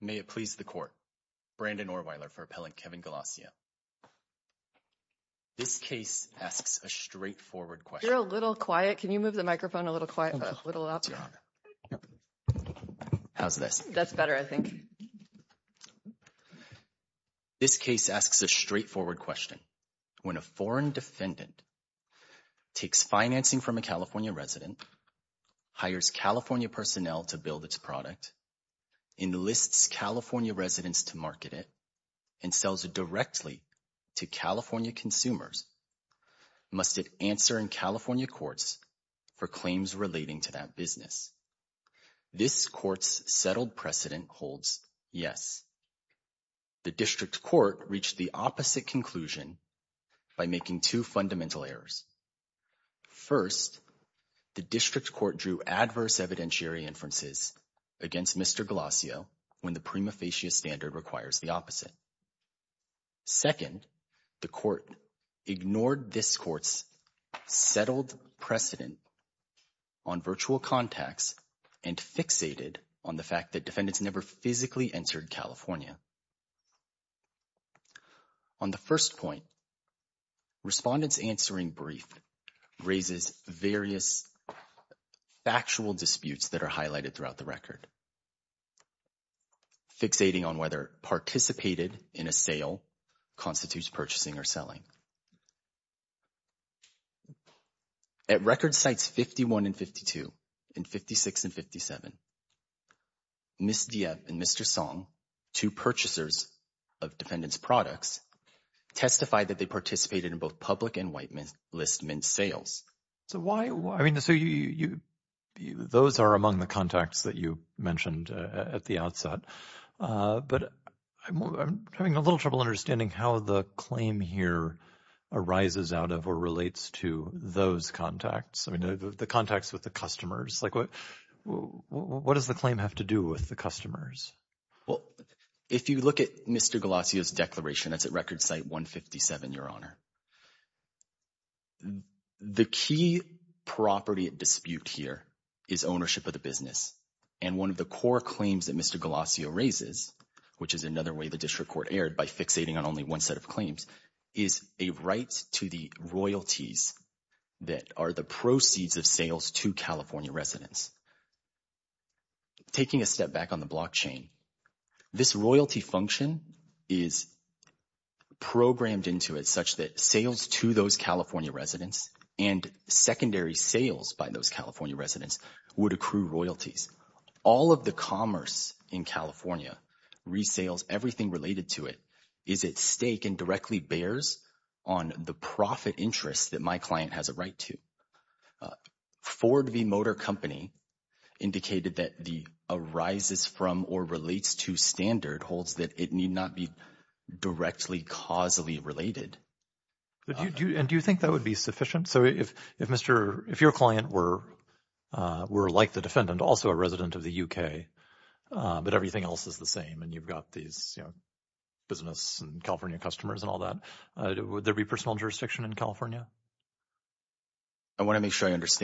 May it please the court Brandon or Weiler for appellant Kevin Galassio This case asks a straightforward question a little quiet, can you move the microphone a little quiet a little up? How's this that's better I think This case asks a straightforward question when a foreign defendant takes financing from a California resident hires, California personnel to build its product in Enlists California residents to market it and sells it directly to California consumers Must it answer in California courts for claims relating to that business? This courts settled precedent holds. Yes The district court reached the opposite conclusion by making two fundamental errors first The district court drew adverse evidentiary inferences against mr. Galassio when the prima facie standard requires the opposite Second the court ignored this courts settled precedent on virtual contacts and fixated on the fact that defendants never physically entered, California on the first point respondents answering brief Raises various Factual disputes that are highlighted throughout the record Fixating on whether participated in a sale constitutes purchasing or selling At record sites 51 and 52 in 56 and 57 Miss Diaz and mr. Song two purchasers of defendants products Testified that they participated in both public and white men's list men's sales. So why I mean the so you you Those are among the contacts that you mentioned at the outset But I'm having a little trouble understanding how the claim here Arises out of or relates to those contacts. I mean the contacts with the customers like what? What does the claim have to do with the customers? Well, if you look at mr. Galassio's declaration That's at record site 157 your honor The key Property at dispute here is ownership of the business and one of the core claims that mr Galassio raises which is another way the district court aired by fixating on only one set of claims is a right to the royalties That are the proceeds of sales to California residents Taking a step back on the blockchain this royalty function is Programmed into it such that sales to those, California residents and Secondary sales by those, California residents would accrue royalties all of the commerce in California Resales everything related to it is at stake and directly bears on the profit interest that my client has a right to Ford v motor company Indicated that the arises from or relates to standard holds that it need not be directly causally related And do you think that would be sufficient? So if if mr. If your client were We're like the defendant also a resident of the UK But everything else is the same and you've got these Business and California customers and all that. Would there be personal jurisdiction in California? I Accept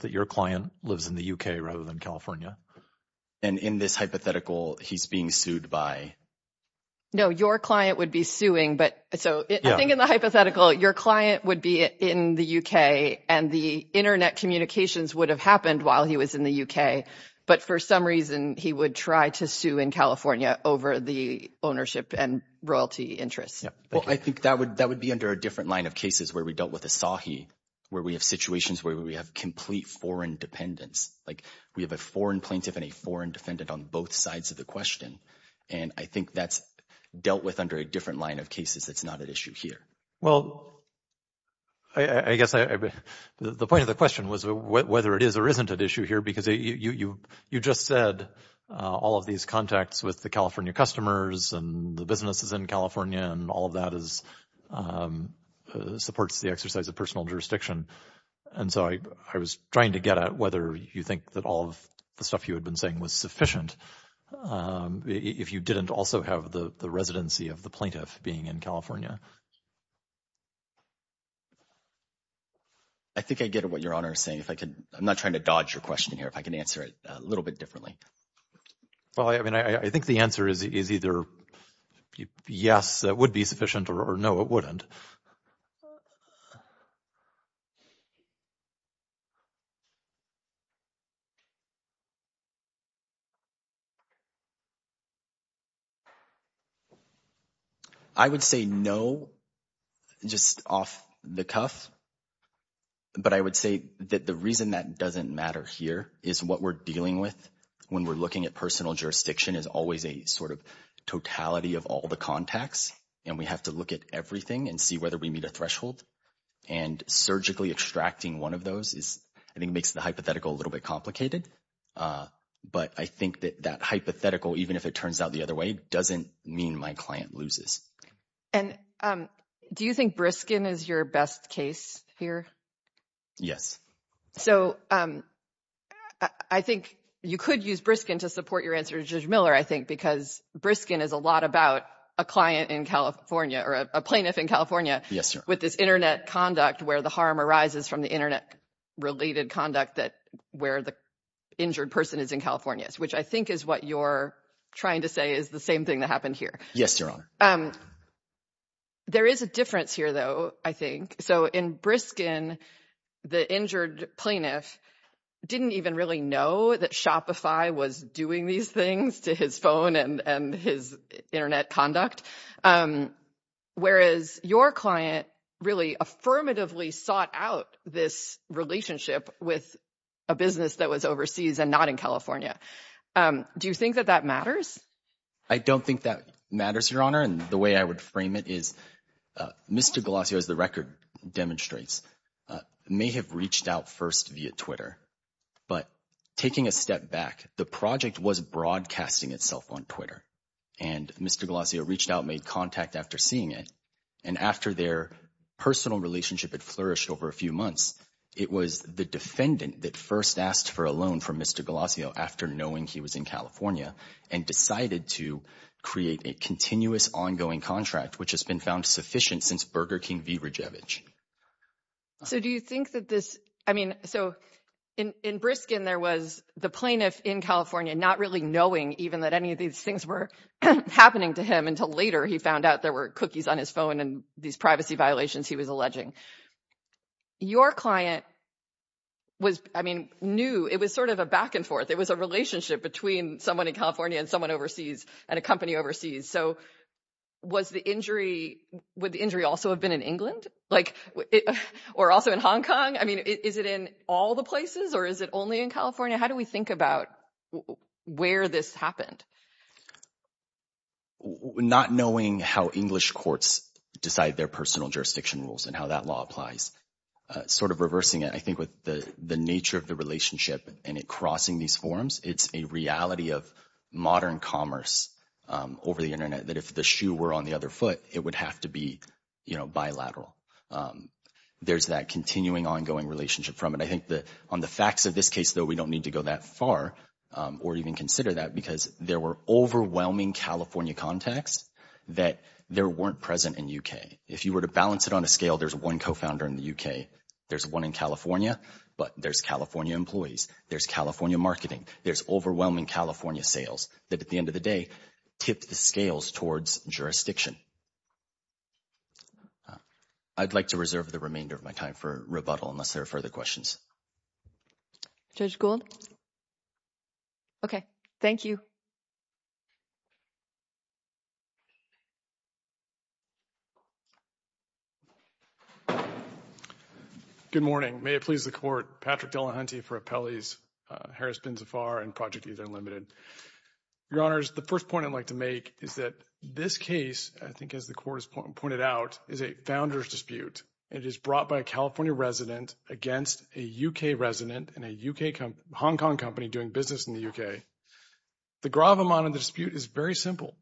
that your client lives in the UK rather than California and in this hypothetical he's being sued by No, your client would be suing but so I think in the hypothetical your client would be in the UK and the internet Communications would have happened while he was in the UK But for some reason he would try to sue in California over the ownership and royalty interests Yeah, I think that would that would be under a different line of cases where we dealt with a saw he where we have situations where we have complete foreign dependents like we have a foreign plaintiff and a foreign defendant on both sides of the question and I think that's Dealt with under a different line of cases. That's not an issue here. Well, I guess I the point of the question was whether it is or isn't an issue here because you you you just said all of these contacts with the California customers and the businesses in California and all of that is Supports the exercise of personal jurisdiction And so I I was trying to get at whether you think that all of the stuff you had been saying was sufficient If you didn't also have the the residency of the plaintiff being in, California. I Think I get what your honor is saying if I could I'm not trying to dodge your question here if I can answer it a little bit differently Well, I mean, I think the answer is is either Yes, that would be sufficient or no, it wouldn't I Would say no Just off the cuff But I would say that the reason that doesn't matter here is what we're dealing with When we're looking at personal jurisdiction is always a sort of totality of all the contacts and we have to look at everything and see whether we meet a threshold and Surgically extracting one of those is I think makes the hypothetical a little bit complicated but I think that that hypothetical even if it turns out the other way doesn't mean my client loses and Do you think Briskin is your best case here? Yes, so I Think you could use Briskin to support your answer to judge Miller I think because Briskin is a lot about a client in California or a plaintiff in California Yes with this internet conduct where the harm arises from the internet related conduct that where the Injured person is in California's which I think is what you're trying to say is the same thing that happened here. Yes, your honor. Um There is a difference here though. I think so in Briskin The injured plaintiff Didn't even really know that Shopify was doing these things to his phone and and his internet conduct Whereas your client really affirmatively sought out this Relationship with a business that was overseas and not in California Do you think that that matters? I don't think that matters your honor. And the way I would frame it is Mr. Galasio as the record demonstrates May have reached out first via Twitter but taking a step back the project was broadcasting itself on Twitter and Mr. Galasio reached out made contact after seeing it and after their personal relationship had flourished over a few months It was the defendant that first asked for a loan from. Mr. Galasio after knowing he was in, California and decided to Create a continuous ongoing contract which has been found sufficient since Burger King v. Rijevich So do you think that this I mean so in in Briskin? There was the plaintiff in California not really knowing even that any of these things were Happening to him until later. He found out there were cookies on his phone and these privacy violations. He was alleging your client Was I mean knew it was sort of a back-and-forth It was a relationship between someone in California and someone overseas and a company overseas. So Was the injury would the injury also have been in England like it or also in Hong Kong? I mean, is it in all the places or is it only in California? How do we think about? Where this happened? Not knowing how English courts decide their personal jurisdiction rules and how that law applies Sort of reversing it I think with the the nature of the relationship and it crossing these forums, it's a reality of modern commerce Over the internet that if the shoe were on the other foot, it would have to be, you know bilateral There's that continuing ongoing relationship from it. I think that on the facts of this case though. We don't need to go that far Or even consider that because there were overwhelming California contacts that there weren't present in UK if you were to balance it on a scale There's one co-founder in the UK. There's one in California, but there's California employees. There's California marketing There's overwhelming California sales that at the end of the day tipped the scales towards jurisdiction I'd like to reserve the remainder of my time for rebuttal unless there are further questions Judge Gould Okay, thank you Good morning, may it please the court Patrick Delahunty for appellees Harris Bin Zafar and project either limited Your honors the first point I'd like to make is that this case I think as the court has pointed out is a founders dispute It is brought by a California resident against a UK resident in a UK come Hong Kong company doing business in the UK the gravamonte dispute is very simple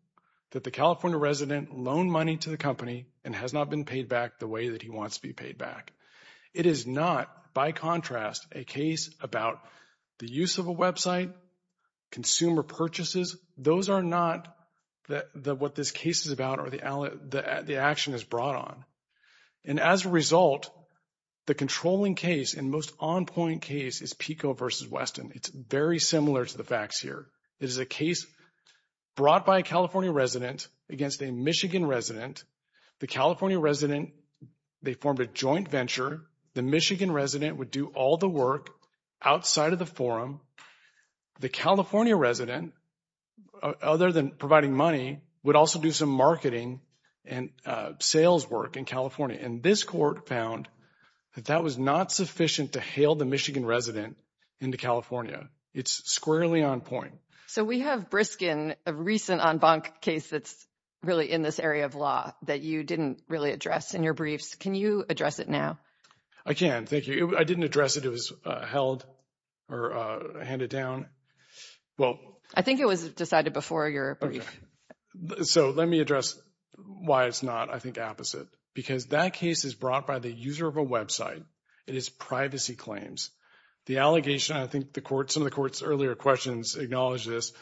that the California resident loan money to the company and has not been paid back the way that He wants to be paid back. It is not by contrast a case about the use of a website consumer purchases those are not that what this case is about or the Action is brought on and as a result The controlling case and most on-point case is Pico vs. Weston. It's very similar to the facts here. It is a case Brought by a California resident against a Michigan resident the California resident They formed a joint venture the Michigan resident would do all the work outside of the forum the California resident other than providing money would also do some marketing and Sales work in California and this court found that that was not sufficient to hail the Michigan resident into California It's squarely on point. So we have briskin a recent en banc case Really in this area of law that you didn't really address in your briefs. Can you address it now? I can't thank you I didn't address it. It was held or Handed down Well, I think it was decided before your So, let me address Why it's not I think opposite because that case is brought by the user of a website. It is privacy claims the allegation I think the court some of the court's earlier questions acknowledge this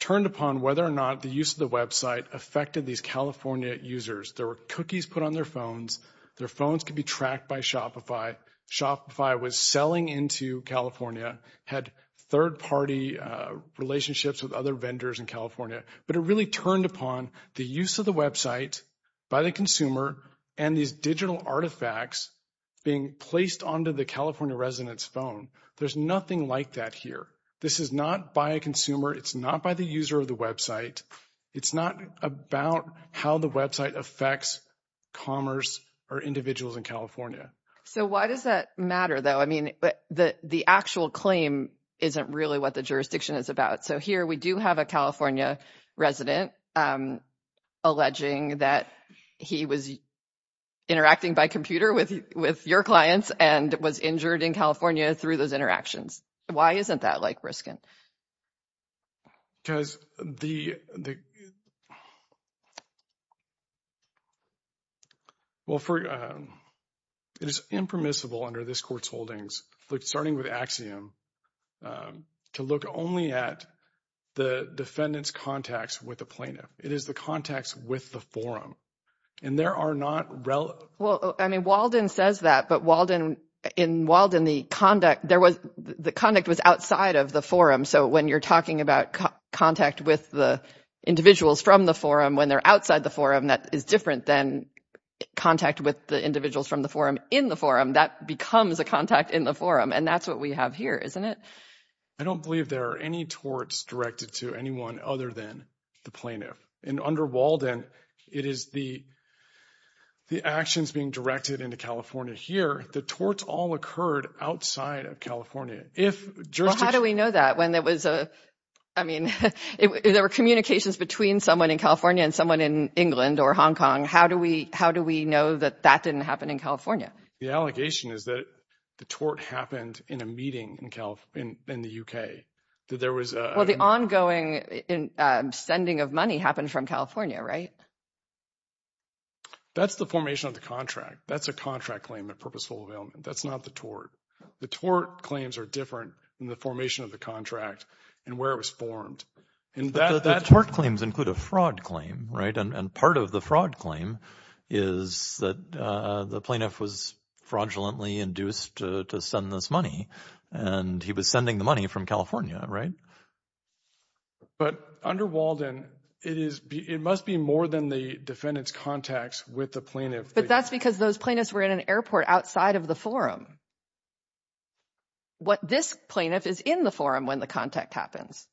Turned upon whether or not the use of the website affected these California users There were cookies put on their phones. Their phones could be tracked by Shopify Shopify was selling into California had third-party relationships with other vendors in California But it really turned upon the use of the website by the consumer and these digital artifacts Being placed onto the California residents phone. There's nothing like that here. This is not by a consumer It's not by the user of the website. It's not about how the website affects Commerce or individuals in California. So why does that matter though? I mean, but the the actual claim isn't really what the jurisdiction is about. So here we do have a California resident Alleging that he was Interacting by computer with with your clients and was injured in California through those interactions. Why isn't that like briskin? because the Well for it is impermissible under this courts holdings like starting with axiom to look only at The defendants contacts with the plaintiff. It is the contacts with the forum and there are not Well, I mean Walden says that but Walden in Walden the conduct there was the conduct was outside of the forum so when you're talking about contact with the individuals from the forum when they're outside the forum that is different than Contact with the individuals from the forum in the forum that becomes a contact in the forum and that's what we have here Isn't it? I don't believe there are any torts directed to anyone other than the plaintiff in under Walden it is the The actions being directed into California here the torts all occurred outside of California How do we know that when there was a I mean There were communications between someone in California and someone in England or Hong Kong How do we how do we know that that didn't happen in California? The allegation is that the tort happened in a meeting in Cal in the UK that there was well the ongoing Sending of money happened from California, right? That's the formation of the contract that's a contract claim at purposeful avail that's not the tort The tort claims are different in the formation of the contract and where it was formed And that that tort claims include a fraud claim, right and part of the fraud claim is that the plaintiff was Fraudulently induced to send this money and he was sending the money from California, right? But under Walden it is it must be more than the defendants contacts with the plaintiff But that's because those plaintiffs were in an airport outside of the forum What this plaintiff is in the forum when the contact happens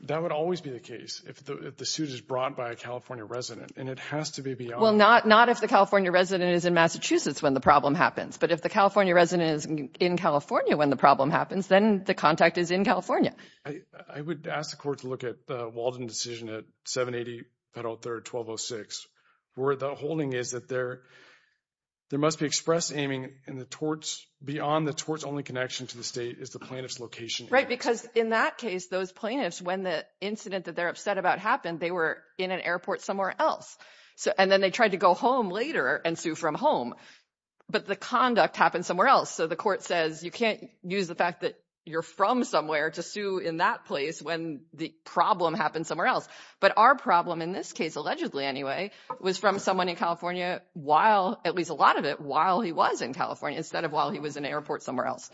That would always be the case if the suit is brought by a California resident and it has to be beyond well Not not if the California resident is in Massachusetts when the problem happens But if the California resident is in California when the problem happens, then the contact is in, California I would ask the court to look at Walden decision at 780 federal third 1206 where the holding is that there There must be express aiming in the torts beyond the torts only connection to the state is the plaintiff's location, right? Because in that case those plaintiffs when the incident that they're upset about happened They were in an airport somewhere else. So and then they tried to go home later and sue from home But the conduct happened somewhere else So the court says you can't use the fact that you're from somewhere to sue in that place when the problem happened somewhere else But our problem in this case allegedly anyway was from someone in California while at least a lot of it while he was in California instead of while he was an airport somewhere else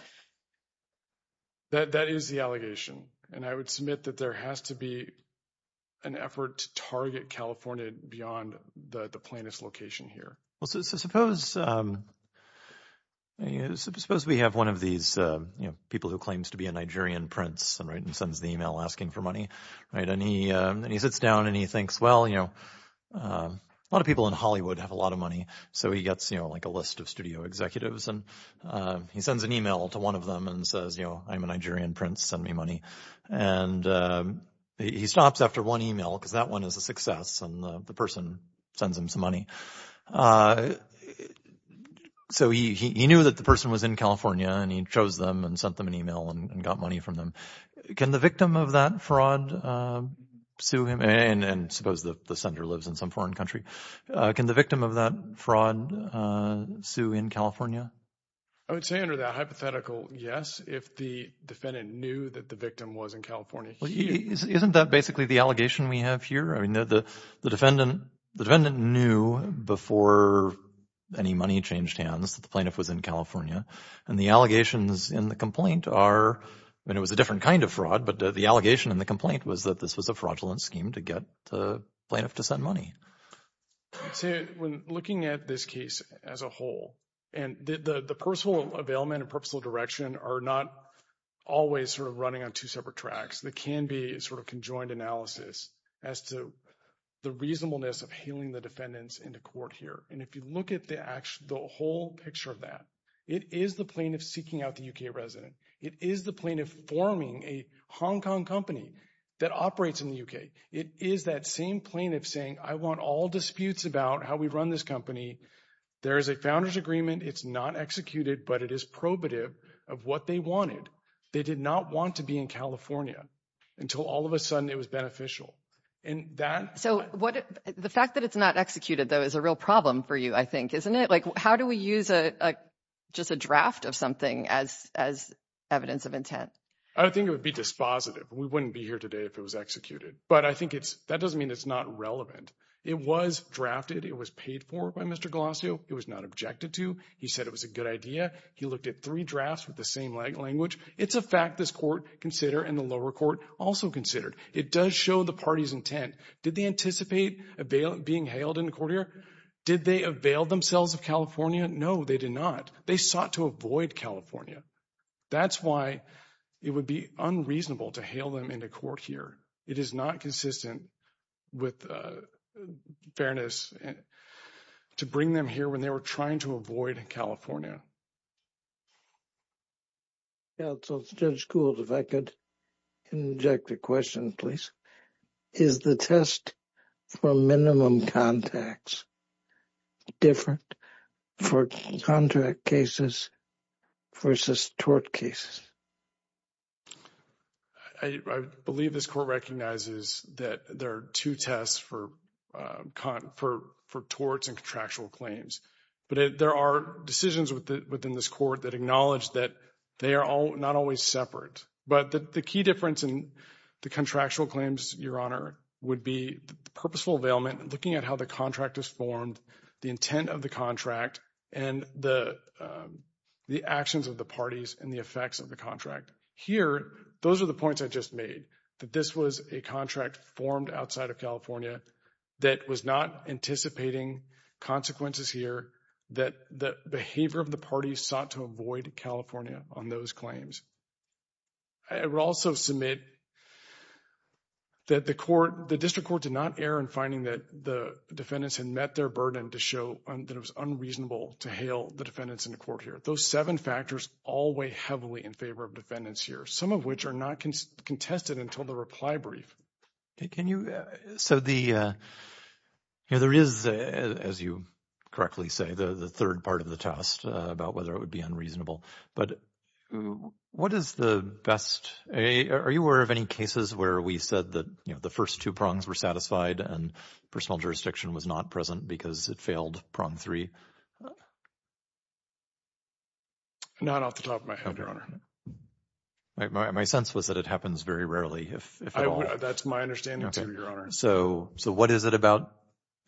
That that is the allegation and I would submit that there has to be an Effort to target California beyond the the plaintiff's location here. Well, so suppose You suppose we have one of these You know people who claims to be a Nigerian Prince and right and sends the email asking for money, right? And he and he sits down and he thinks well, you know a lot of people in Hollywood have a lot of money so he gets you know, like a list of studio executives and he sends an email to one of them and says, you know, I'm a Nigerian Prince send me money and He stops after one email because that one is a success and the person sends him some money I So he knew that the person was in California and he chose them and sent them an email and got money from them Can the victim of that fraud? Sue him and and suppose the the center lives in some foreign country. Can the victim of that fraud? Sue in California. I would say under that hypothetical. Yes, if the defendant knew that the victim was in California Isn't that basically the allegation we have here? The defendant the defendant knew before Any money changed hands the plaintiff was in California and the allegations in the complaint are and it was a different kind of fraud But the allegation and the complaint was that this was a fraudulent scheme to get the plaintiff to send money Looking at this case as a whole and the the personal availment and personal direction are not Always sort of running on two separate tracks that can be sort of conjoined analysis as to The reasonableness of healing the defendants in the court here And if you look at the actual the whole picture of that it is the plaintiff seeking out the UK resident It is the plaintiff forming a Hong Kong company that operates in the UK It is that same plaintiff saying I want all disputes about how we run this company There is a founders agreement it's not executed but it is probative of what they wanted They did not want to be in California until all of a sudden it was beneficial in that So what the fact that it's not executed though is a real problem for you. I think isn't it? like how do we use a Just a draft of something as as evidence of intent. I think it would be dispositive We wouldn't be here today if it was executed, but I think it's that doesn't mean it's not relevant. It was drafted It was paid for by mr. Glossier. It was not objected to he said it was a good idea He looked at three drafts with the same language. It's a fact this court consider and the lower court also considered It does show the party's intent. Did they anticipate a bailout being hailed in the court here? Did they avail themselves of California? No, they did not they sought to avoid, California That's why it would be unreasonable to hail them into court here. It is not consistent with With fairness To bring them here when they were trying to avoid in, California So it's judge schools if I could Inject a question, please. Is the test for minimum contacts? different for contract cases versus tort cases I I believe this court recognizes that there are two tests for Con for for torts and contractual claims But there are decisions with it within this court that acknowledged that they are all not always separate but the key difference in the contractual claims your honor would be purposeful availment looking at how the contract is formed the intent of the contract and the The actions of the parties and the effects of the contract here Those are the points I just made that this was a contract formed outside of California that was not anticipating Consequences here that the behavior of the party sought to avoid, California on those claims I will also submit That the court the district court did not err in finding that the Defendants had met their burden to show that it was unreasonable to hail the defendants in the court here those seven factors all weigh heavily in favor Of defendants here some of which are not contested until the reply brief can you so the you know, there is as you correctly say the the third part of the test about whether it would be unreasonable, but What is the best a are you aware of any cases where we said that you know? The first two prongs were satisfied and personal jurisdiction was not present because it failed prong three Not off the top of my head your honor My sense was that it happens very rarely if that's my understanding your honor. So so what is it about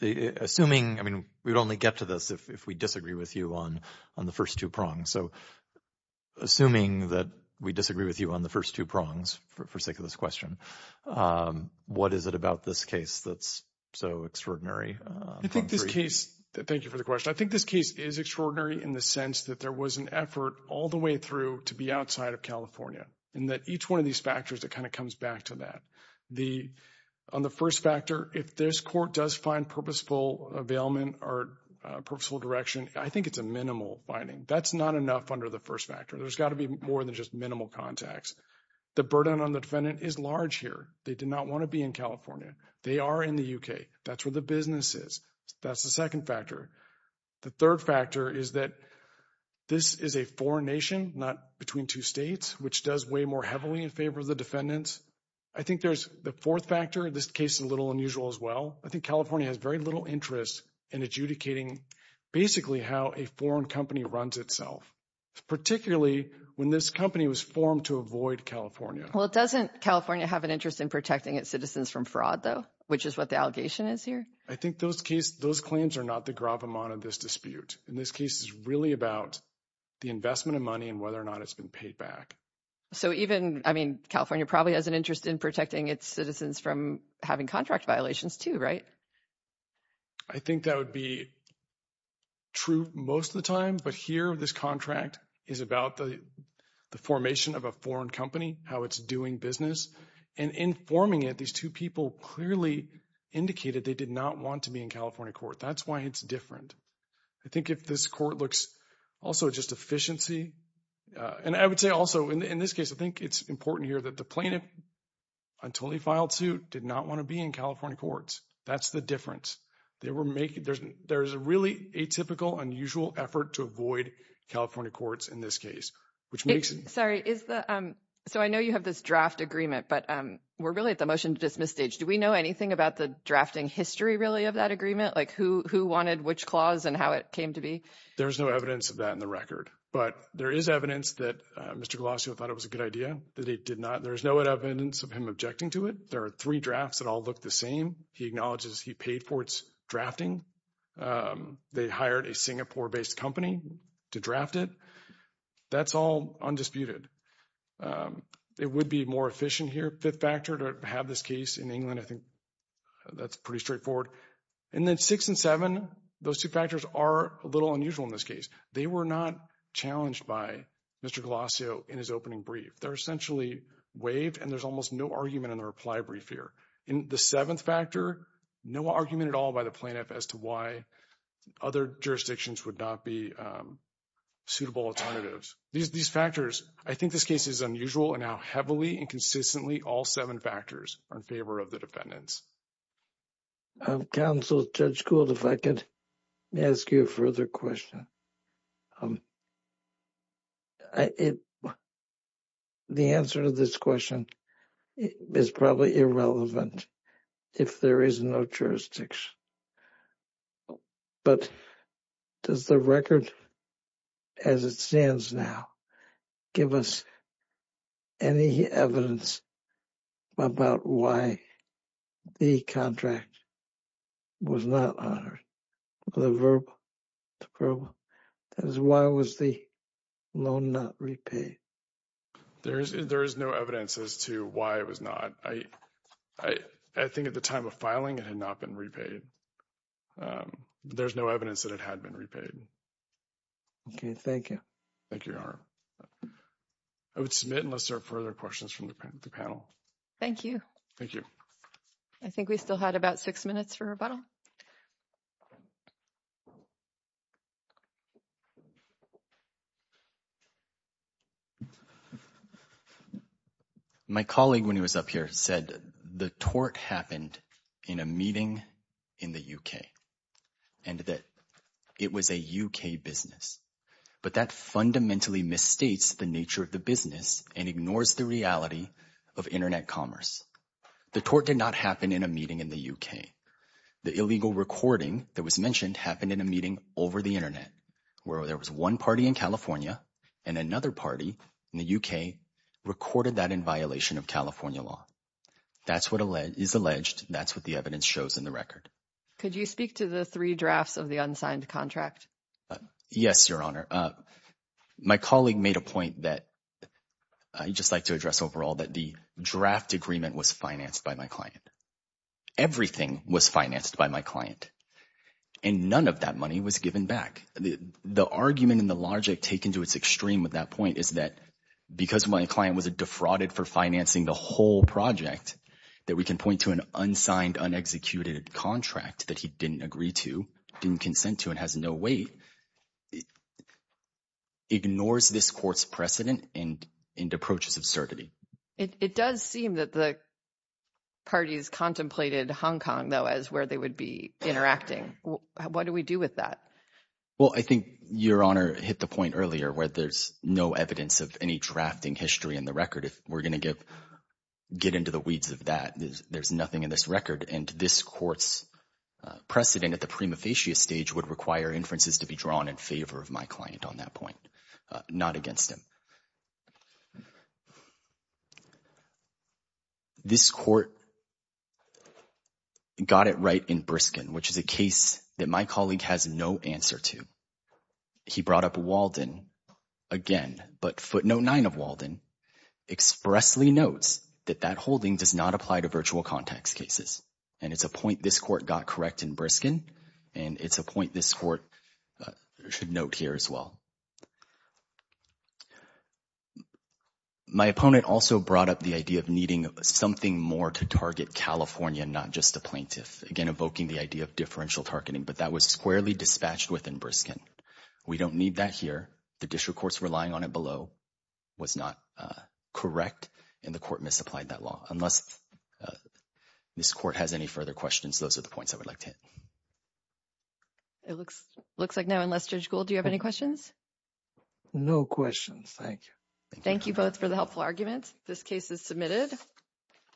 the assuming? I mean, we would only get to this if we disagree with you on on the first two prongs. So Assuming that we disagree with you on the first two prongs for sake of this question What is it about this case that's so extraordinary I think this case thank you for the question I think this case is extraordinary in the sense that there was an effort all the way through to be outside of California and that each one of these factors that kind of comes back to that the on the first factor if this court does find purposeful availment or Purposeful direction. I think it's a minimal binding. That's not enough under the first factor There's got to be more than just minimal contacts. The burden on the defendant is large here They did not want to be in California. They are in the UK. That's where the business is. That's the second factor the third factor is that This is a foreign nation not between two states, which does weigh more heavily in favor of the defendants I think there's the fourth factor this case is a little unusual as well. I think California has very little interest in adjudicating Basically how a foreign company runs itself Particularly when this company was formed to avoid, California Well, it doesn't California have an interest in protecting its citizens from fraud though, which is what the allegation is here I think those case those claims are not the gravamonte of this dispute in this case is really about The investment of money and whether or not it's been paid back So even I mean California probably has an interest in protecting its citizens from having contract violations, too, right? I think that would be True most of the time but here this contract is about the formation of a foreign company how it's doing business and Informing it these two people clearly Indicated they did not want to be in California court. That's why it's different I think if this court looks also just efficiency And I would say also in this case, I think it's important here that the plaintiff Until he filed suit did not want to be in California courts. That's the difference They were making there's there's a really atypical unusual effort to avoid California courts in this case, which makes it sorry is the so I know you have this draft agreement But we're really at the motion to dismiss stage Do we know anything about the drafting history really of that agreement? Like who who wanted which clause and how it came to be? There's no evidence of that in the record But there is evidence that mr. Colosio thought it was a good idea that he did not there's no evidence of him objecting to it There are three drafts that all look the same. He acknowledges he paid for its drafting They hired a Singapore based company to draft it That's all undisputed It would be more efficient here fifth factor to have this case in England. I think That's pretty straightforward and then six and seven those two factors are a little unusual in this case. They were not Challenged by mr. Colosio in his opening brief They're essentially waived and there's almost no argument in the reply brief here in the seventh factor No argument at all by the plaintiff as to why? other jurisdictions would not be Suitable alternatives these these factors. I think this case is unusual and how heavily and consistently all seven factors are in favor of the defendants Counsel judge schooled if I could ask you a further question I It The answer to this question is probably irrelevant if there is no jurisdiction But Does the record as it stands now? give us any evidence about why the contract Was not honored the verb As why was the loan not repaid There's there is no evidence as to why it was not I I I think at the time of filing it had not been repaid There's no evidence that it had been repaid Okay. Thank you. Thank you. I Would submit unless there are further questions from the panel. Thank you. Thank you. I Rebuttal My colleague when he was up here said the tort happened in a meeting in the UK and That it was a UK business But that fundamentally misstates the nature of the business and ignores the reality of internet commerce The tort did not happen in a meeting in the UK the illegal recording that was mentioned happened in a meeting over the internet where there was one party in California and another party in the Recorded that in violation of California law. That's what a lead is alleged. That's what the evidence shows in the record Could you speak to the three drafts of the unsigned contract? Yes, your honor my colleague made a point that I Just like to address overall that the draft agreement was financed by my client everything was financed by my client and None of that money was given back the the argument and the logic taken to its extreme with that point Is that because my client was a defrauded for financing the whole project that we can point to an unsigned? Unexecuted contract that he didn't agree to didn't consent to and has no weight It Ignores this court's precedent and in approaches of certainty. It does seem that the Parties contemplated Hong Kong though as where they would be interacting. What do we do with that? Well, I think your honor hit the point earlier where there's no evidence of any drafting history in the record if we're gonna give Get into the weeds of that. There's nothing in this record and this courts Precedent at the prima facie stage would require inferences to be drawn in favor of my client on that point not against him This court Got it right in Briskin, which is a case that my colleague has no answer to He brought up Walden again, but footnote 9 of Walden Expressly notes that that holding does not apply to virtual context cases and it's a point this court got correct in Briskin and It's a point this court Should note here as well My opponent also brought up the idea of needing something more to target California not just a plaintiff again evoking the idea of differential targeting but that was squarely dispatched within Briskin We don't need that here the district courts relying on it below was not correct in the court misapplied that law unless This court has any further questions. Those are the points. I would like to hit It looks looks like now unless judge Gould do you have any questions No questions. Thank you. Thank you both for the helpful argument. This case is submitted